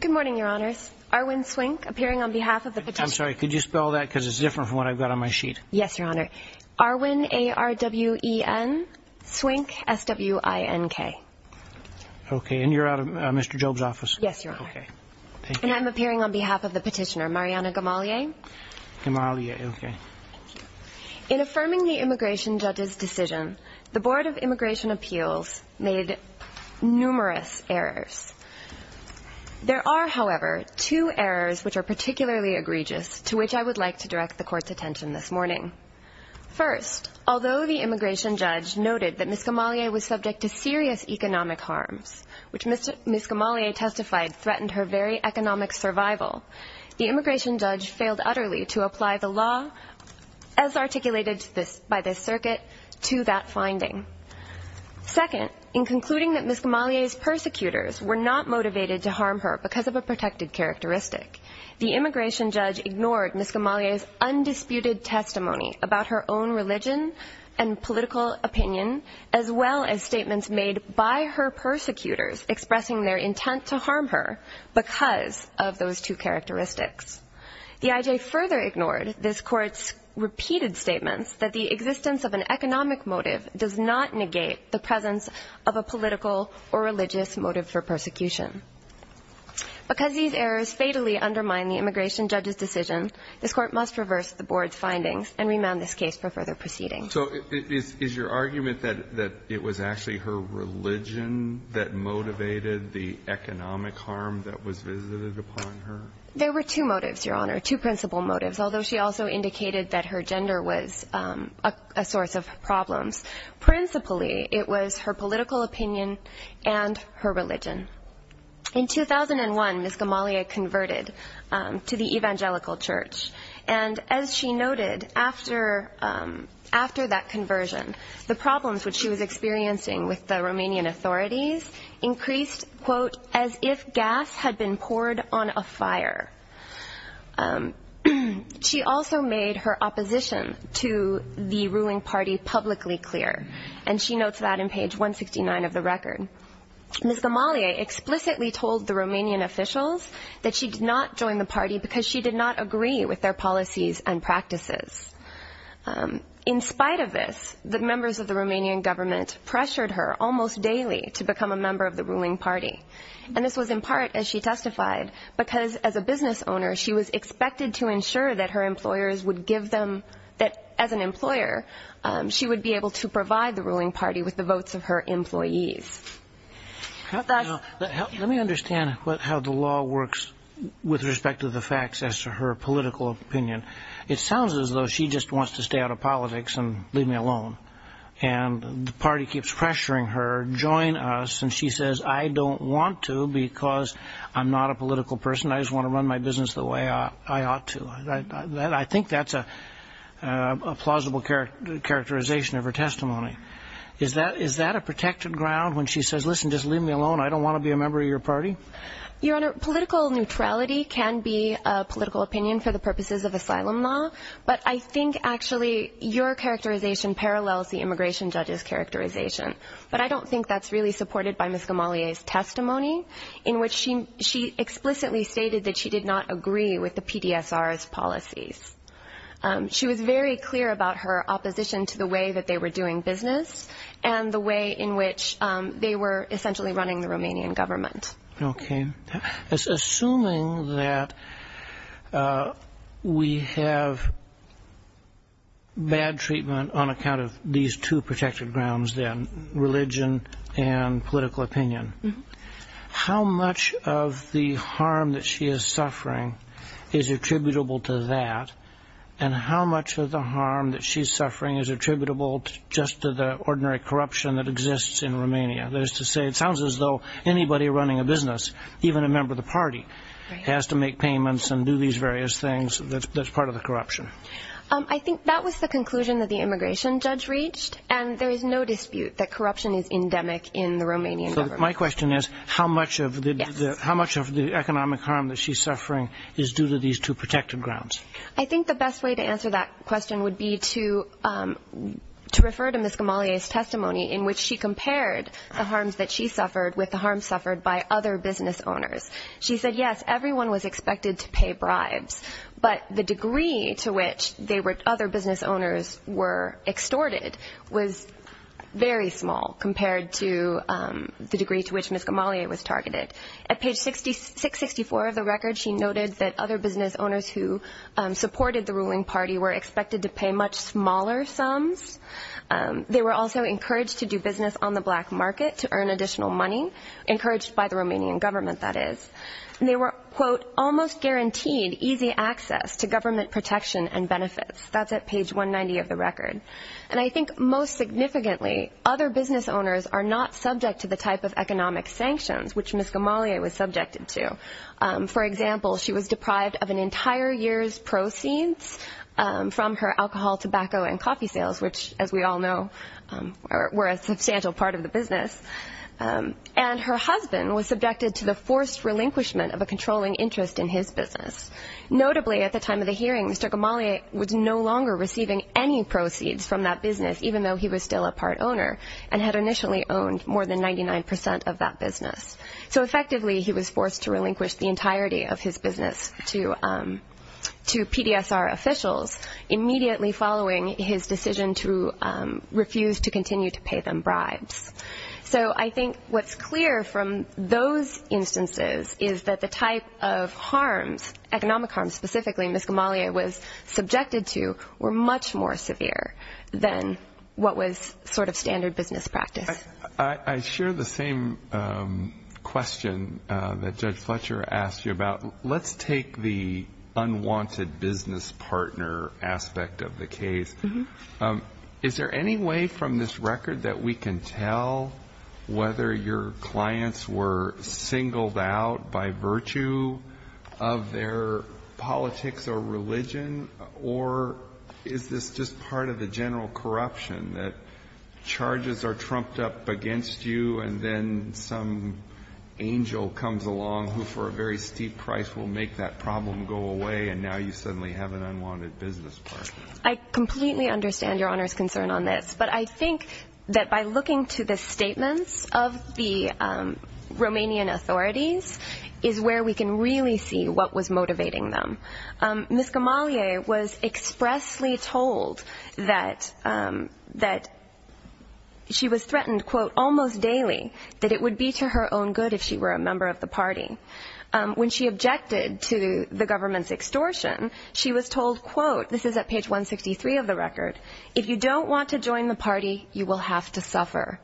Good morning, Your Honors. Arwin Swink, appearing on behalf of the Petitioner. I'm sorry, could you spell that? Because it's different from what I've got on my sheet. Yes, Your Honor. Arwin, A-R-W-E-N, Swink, S-W-I-N-K. Okay, and you're out of Mr. Job's office? Yes, Your Honor. Okay, thank you. And I'm appearing on behalf of the Petitioner, Mariana Gamalie. Gamalie, okay. In affirming the Immigration Judge's decision, the Board of Immigration Appeals made numerous errors. There are, however, two errors which are particularly egregious, to which I would like to direct the Court's attention this morning. First, although the Immigration Judge noted that Ms. Gamalie was subject to serious economic harms, which Ms. Gamalie testified threatened her very economic survival, the Immigration Judge failed utterly to apply the law as articulated by this circuit to that finding. Second, in concluding that Ms. Gamalie's persecutors were not motivated to harm her because of a protected characteristic, the Immigration Judge ignored Ms. Gamalie's undisputed testimony about her own religion and political opinion, as well as statements made by her persecutors expressing their intent to harm her because of those two characteristics. The I.J. further ignored this Court's repeated statements that the existence of an economic motive does not negate the presence of a political or religious motive for persecution. Because these errors fatally undermine the Immigration Judge's decision, this Court must reverse the Board's findings and remand this case for further proceeding. So is your argument that it was actually her religion that motivated the economic harm that was visited upon her? There were two motives, Your Honor, two principal motives, although she also indicated that her gender was a source of problems. Principally, it was her political opinion and her religion. In 2001, Ms. Gamalie converted to the Evangelical Church. And as she noted, after that conversion, the problems which she was experiencing with the Romanian authorities increased, quote, as if gas had been poured on a fire. She also made her opposition to the ruling party publicly clear, and she notes that in page 169 of the record. Ms. Gamalie explicitly told the Romanian officials that she did not join the party because she did not agree with their policies and practices. In spite of this, the members of the Romanian government pressured her almost daily to become a member of the ruling party. And this was in part, as she testified, because as a business owner, she was expected to ensure that her employers would give them, that as an employer, she would be able to provide the ruling party with the votes of her employees. Let me understand how the law works with respect to the facts as to her political opinion. It sounds as though she just wants to stay out of politics and leave me alone. And the party keeps pressuring her, join us. And she says, I don't want to because I'm not a political person. I just want to run my business the way I ought to. I think that's a plausible characterization of her testimony. Is that a protected ground when she says, listen, just leave me alone, I don't want to be a member of your party? Your Honor, political neutrality can be a political opinion for the purposes of asylum law, but I think actually your characterization parallels the immigration judge's characterization. But I don't think that's really supported by Ms. Gamalie's testimony, in which she explicitly stated that she did not agree with the PDSR's policies. She was very clear about her opposition to the way that they were doing business and the way in which they were essentially running the Romanian government. Okay. Assuming that we have bad treatment on account of these two protected grounds then, religion and political opinion, how much of the harm that she is suffering is attributable to that, and how much of the harm that she's suffering is attributable just to the ordinary corruption that exists in Romania? That is to say, it sounds as though anybody running a business, even a member of the party, has to make payments and do these various things that's part of the corruption. I think that was the conclusion that the immigration judge reached, and there is no dispute that corruption is endemic in the Romanian government. So my question is, how much of the economic harm that she's suffering is due to these two protected grounds? I think the best way to answer that question would be to refer to Ms. Gamalie's testimony, in which she compared the harms that she suffered with the harms suffered by other business owners. She said, yes, everyone was expected to pay bribes, but the degree to which other business owners were extorted was very small compared to the degree to which Ms. Gamalie was targeted. At page 664 of the record, she noted that other business owners who supported the ruling party were expected to pay much smaller sums. They were also encouraged to do business on the black market to earn additional money, encouraged by the Romanian government, that is. And they were, quote, almost guaranteed easy access to government protection and benefits. That's at page 190 of the record. And I think most significantly, other business owners are not subject to the type of economic sanctions which Ms. Gamalie was subjected to. For example, she was deprived of an entire year's proceeds from her alcohol, tobacco, and coffee sales, which, as we all know, were a substantial part of the business. And her husband was subjected to the forced relinquishment of a controlling interest in his business. Notably, at the time of the hearing, Mr. Gamalie was no longer receiving any proceeds from that business, even though he was still a part owner, and had initially owned more than 99 percent of that business. So effectively, he was forced to relinquish the entirety of his business to PDSR officials, immediately following his decision to refuse to continue to pay them bribes. So I think what's clear from those instances is that the type of harms, economic harms specifically, Ms. Gamalie was subjected to, were much more severe than what was sort of standard business practice. I share the same question that Judge Fletcher asked you about. Let's take the unwanted business partner aspect of the case. Is there any way from this record that we can tell whether your clients were singled out by virtue of their politics or religion? Or is this just part of the general corruption that charges are trumped up against you, and then some angel comes along who, for a very steep price, will make that problem go away, and now you suddenly have an unwanted business partner? I completely understand Your Honor's concern on this. But I think that by looking to the statements of the Romanian authorities is where we can really see what was motivating them. Ms. Gamalie was expressly told that she was threatened, quote, almost daily that it would be to her own good if she were a member of the party. When she objected to the government's extortion, she was told, quote, this is at page 163 of the record, if you don't want to join the party, you will have to suffer.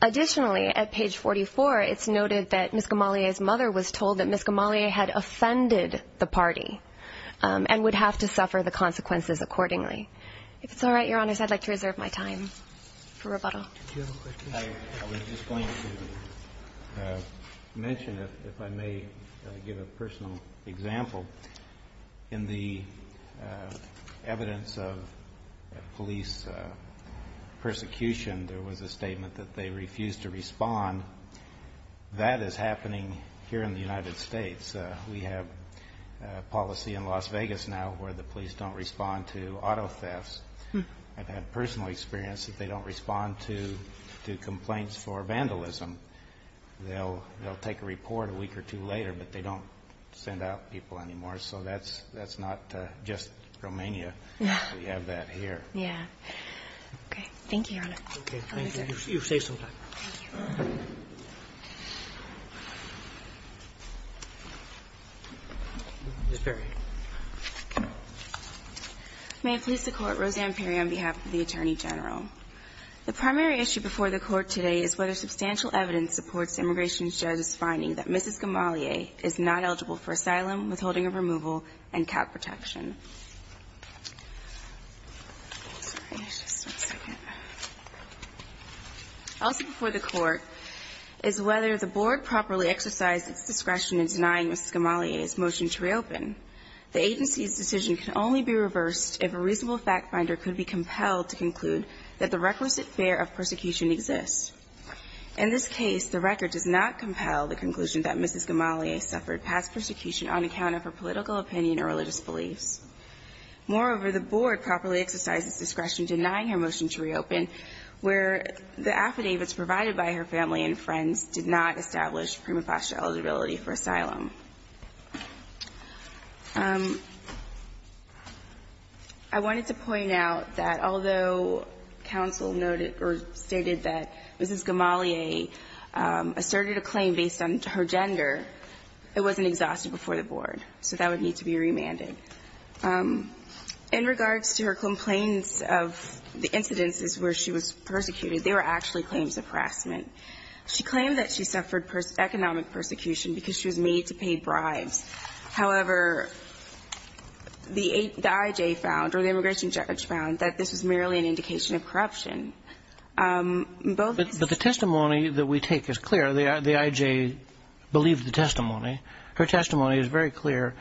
Additionally, at page 44, it's noted that Ms. Gamalie's mother was told that Ms. Gamalie had offended the party and would have to suffer the consequences accordingly. If it's all right, Your Honors, I'd like to reserve my time for rebuttal. I was just going to mention, if I may give a personal example, in the evidence of police persecution, there was a statement that they refused to respond. That is happening here in the United States. We have policy in Las Vegas now where the police don't respond to auto thefts. I've had personal experience that they don't respond to complaints for vandalism. They'll take a report a week or two later, but they don't send out people anymore. So that's not just Romania. We have that here. Okay. Thank you, Your Honor. Okay. Thank you. You're safe some time. Thank you. Ms. Perry. May it please the Court, Roseanne Perry on behalf of the Attorney General. The primary issue before the Court today is whether substantial evidence supports the immigration judge's finding that Mrs. Gamalie is not eligible for asylum, withholding of removal, and cap protection. Also before the Court is whether the Board properly exercised its discretion in denying Mrs. Gamalie's motion to reopen. The agency's decision can only be reversed if a reasonable fact finder could be compelled to conclude that the requisite fear of persecution exists. In this case, the record does not compel the conclusion that Mrs. Gamalie suffered past persecution on account of her political opinion or religious beliefs. Moreover, the Board properly exercised its discretion denying her motion to reopen where the affidavits provided by her family and friends did not establish prima facie eligibility for asylum. I wanted to point out that although counsel noted or stated that Mrs. Gamalie asserted a claim based on her gender, it wasn't exhausted before the Board, so that would need to be remanded. In regards to her complaints of the incidences where she was persecuted, they were actually claims of harassment. She claimed that she suffered economic persecution because she was made to pay bribes. However, the I.J. found, or the immigration judge found, that this was merely an indication of corruption. In both instances. But the testimony that we take is clear. The I.J. believed the testimony. Her testimony is very clear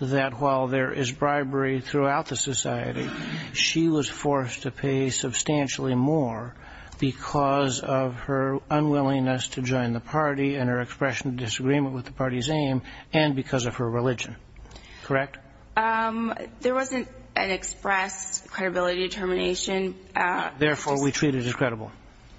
that while there is bribery throughout the society, she was forced to pay substantially more because of her unwillingness to join the party and her expression of disagreement with the party's aim and because of her religion. Correct? There wasn't an expressed credibility determination. Therefore, we treat it as credible.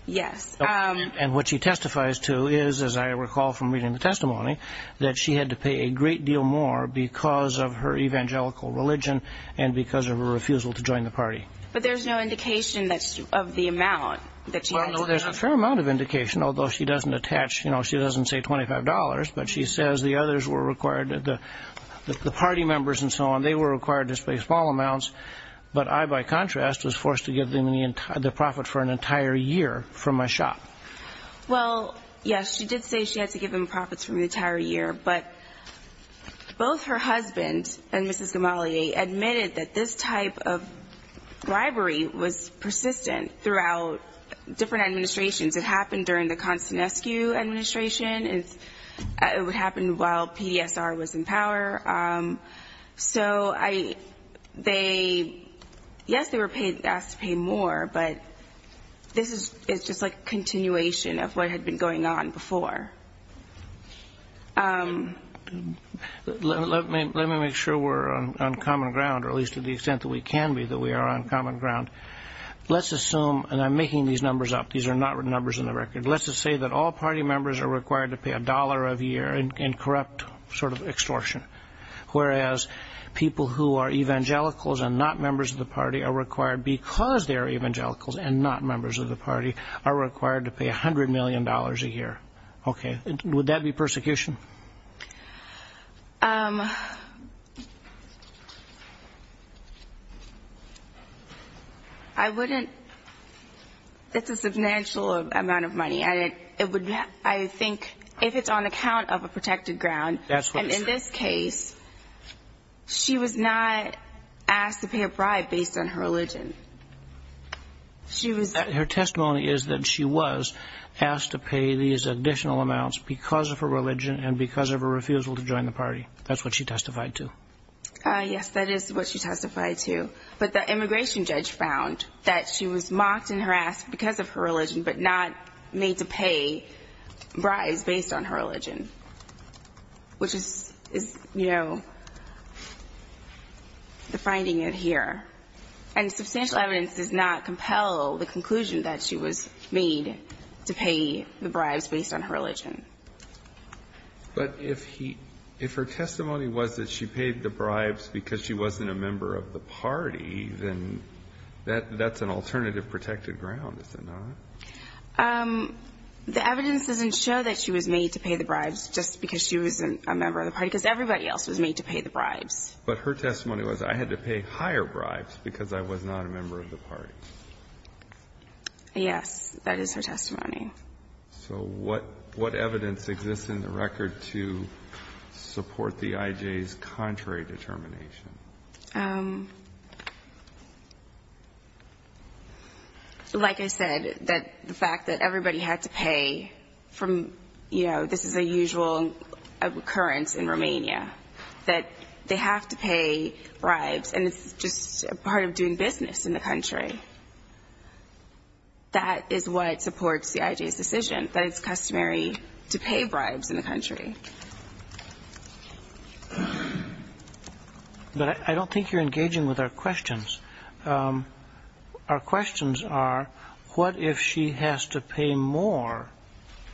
Yes. And what she testifies to is, as I recall from reading the testimony, that she had to pay a great deal more because of her evangelical religion and because of her refusal to join the party. But there's no indication of the amount that she had to pay. Well, no, there's a fair amount of indication, although she doesn't attach, you know, she doesn't say $25, but she says the others were required, the party members and so on, they were required to pay small amounts. But I, by contrast, was forced to give them the profit for an entire year from my shop. Well, yes, she did say she had to give them profits from the entire year, but both her husband and Mrs. Gamali admitted that this type of bribery was persistent throughout different administrations. It happened during the Konstantinescu administration. It would happen while PDSR was in power. So I, they, yes, they were paid, asked to pay more. But this is, it's just like a continuation of what had been going on before. Let me make sure we're on common ground, or at least to the extent that we can be, that we are on common ground. Let's assume, and I'm making these numbers up, these are not numbers in the record. Let's just say that all party members are required to pay a dollar a year in corrupt sort of extortion, whereas people who are evangelicals and not members of the party are required, because they are evangelicals and not members of the party, are required to pay $100 million a year. Okay. Would that be persecution? I wouldn't, it's a substantial amount of money. I think if it's on account of a protected ground, and in this case, she was not asked to pay a bribe based on her religion. Her testimony is that she was asked to pay these additional amounts because of her religion and because of her refusal to join the party. That's what she testified to. Yes, that is what she testified to. But the immigration judge found that she was mocked and harassed because of her religion but not made to pay bribes based on her religion, which is, you know, the finding in here. And substantial evidence does not compel the conclusion that she was made to pay the bribes based on her religion. But if he, if her testimony was that she paid the bribes because she wasn't a member of the party, then that's an alternative protected ground, is it not? The evidence doesn't show that she was made to pay the bribes just because she wasn't a member of the party, because everybody else was made to pay the bribes. But her testimony was, I had to pay higher bribes because I was not a member of the party. Yes, that is her testimony. So what evidence exists in the record to support the IJ's contrary determination? Like I said, that the fact that everybody had to pay from, you know, this is a usual occurrence in Romania, that they have to pay bribes and it's just a part of doing business in the country. That is what supports the IJ's decision, that it's customary to pay bribes in the country. But I don't think you're engaging with our questions. Our questions are, what if she has to pay more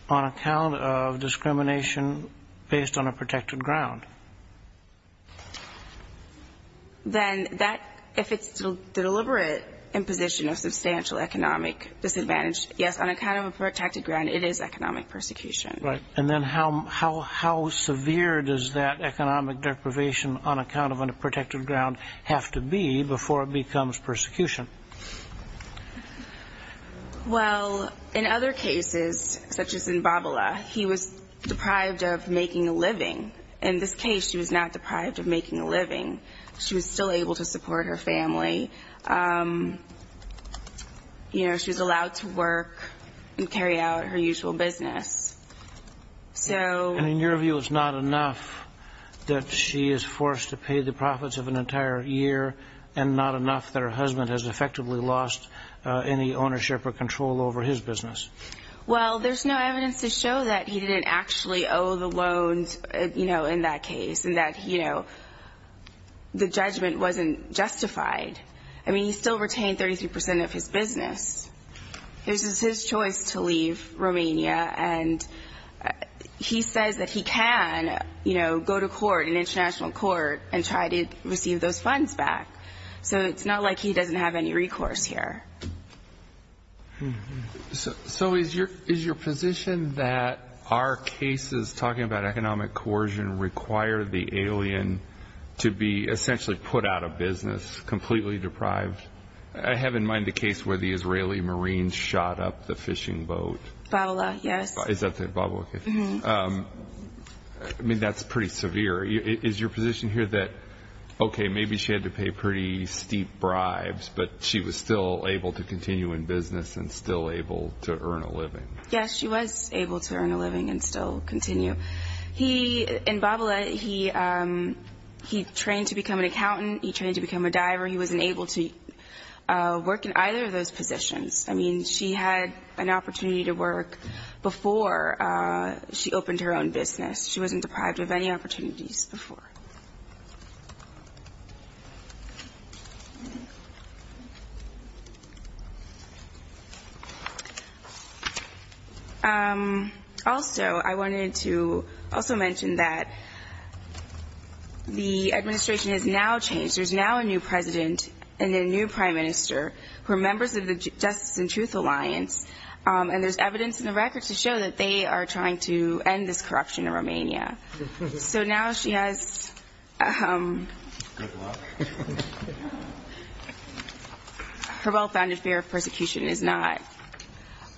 on account of discrimination based on a protected ground? Then that, if it's the deliberate imposition of substantial economic disadvantage, yes, on account of a protected ground, it is economic persecution. Right. And then how severe does that economic deprivation on account of a protected ground have to be before it becomes persecution? Well, in other cases, such as in Babala, he was deprived of making a living. In this case, she was not deprived of making a living. She was still able to support her family. You know, she was allowed to work and carry out her usual business. And in your view, it's not enough that she is forced to pay the profits of an entire year and not enough that her husband has effectively lost any ownership or control over his business? Well, there's no evidence to show that he didn't actually owe the loans, you know, that the judgment wasn't justified. I mean, he still retained 33% of his business. This is his choice to leave Romania. And he says that he can, you know, go to court, an international court, and try to receive those funds back. So it's not like he doesn't have any recourse here. So is your position that our cases, talking about economic coercion, require the alien to be essentially put out of business, completely deprived? I have in mind the case where the Israeli Marines shot up the fishing boat. Babala, yes. Is that the Babala case? Mm-hmm. I mean, that's pretty severe. Is your position here that, okay, maybe she had to pay pretty steep bribes, but she was still able to continue in business and still able to earn a living? Yes, she was able to earn a living and still continue. And Babala, he trained to become an accountant. He trained to become a diver. He wasn't able to work in either of those positions. I mean, she had an opportunity to work before she opened her own business. She wasn't deprived of any opportunities before. Also, I wanted to also mention that the administration has now changed. There's now a new president and a new prime minister who are members of the Justice and Truth Alliance, and there's evidence in the records to show that they are trying to end this corruption in Romania. So now she has her well-founded fear of persecution is not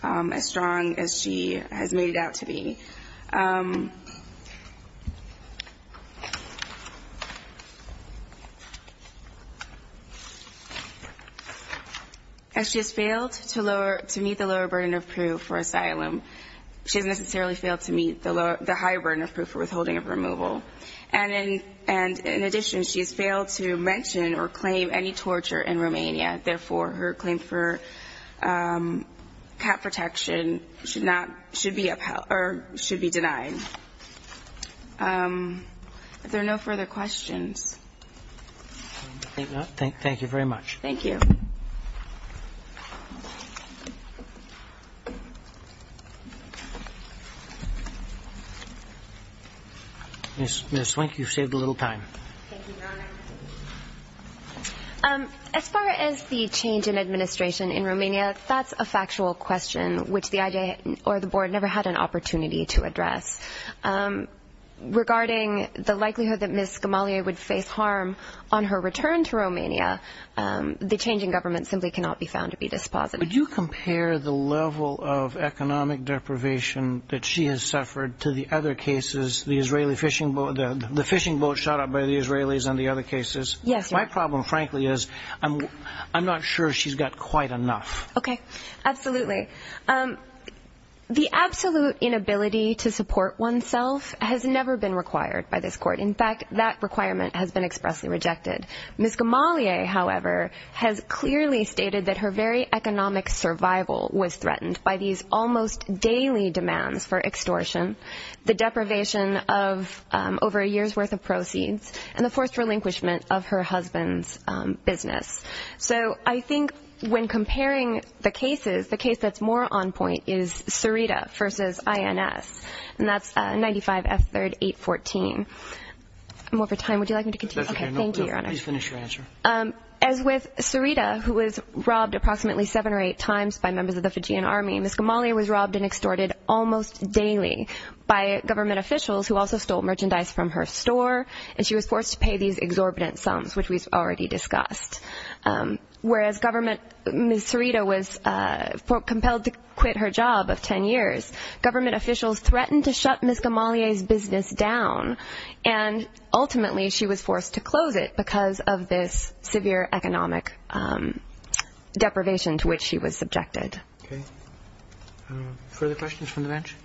as strong as she has made it out to be. And she has failed to meet the lower burden of proof for asylum. She hasn't necessarily failed to meet the high burden of proof for withholding of removal. And in addition, she has failed to mention or claim any torture in Romania. Therefore, her claim for cap protection should be denied. Are there no further questions? I think not. Thank you very much. Thank you. Ms. Swink, you saved a little time. Thank you, Your Honor. As far as the change in administration in Romania, that's a factual question, which the IJ or the Board never had an opportunity to address. Regarding the likelihood that Ms. Gamalia would face harm on her return to Romania, the changing government simply cannot be found to be dispositive. Would you compare the level of economic deprivation that she has suffered to the other cases, the fishing boat shot up by the Israelis and the other cases? Yes. My problem, frankly, is I'm not sure she's got quite enough. Okay. Absolutely. The absolute inability to support oneself has never been required by this court. In fact, that requirement has been expressly rejected. Ms. Gamalia, however, has clearly stated that her very economic survival was threatened by these almost daily demands for extortion. The deprivation of over a year's worth of proceeds and the forced relinquishment of her husband's business. So I think when comparing the cases, the case that's more on point is Sarita v. INS, and that's 95 F. 3rd 814. I'm over time. Would you like me to continue? Okay. Thank you, Your Honor. As with Sarita, who was robbed approximately seven or eight times by members of the Fijian Army, Ms. Gamalia was robbed and extorted almost daily by government officials who also stole merchandise from her store, and she was forced to pay these exorbitant sums, which we've already discussed. Whereas Ms. Sarita was compelled to quit her job of ten years, government officials threatened to shut Ms. Gamalia's business down, and ultimately she was forced to close it because of this severe economic deprivation to which she was subjected. Okay. Further questions from the bench?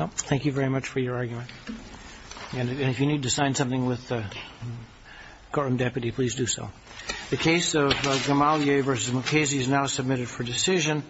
No. Thank you very much for your argument. And if you need to sign something with the courtroom deputy, please do so. The case of Gamalia v. Mukasey is now submitted for decision.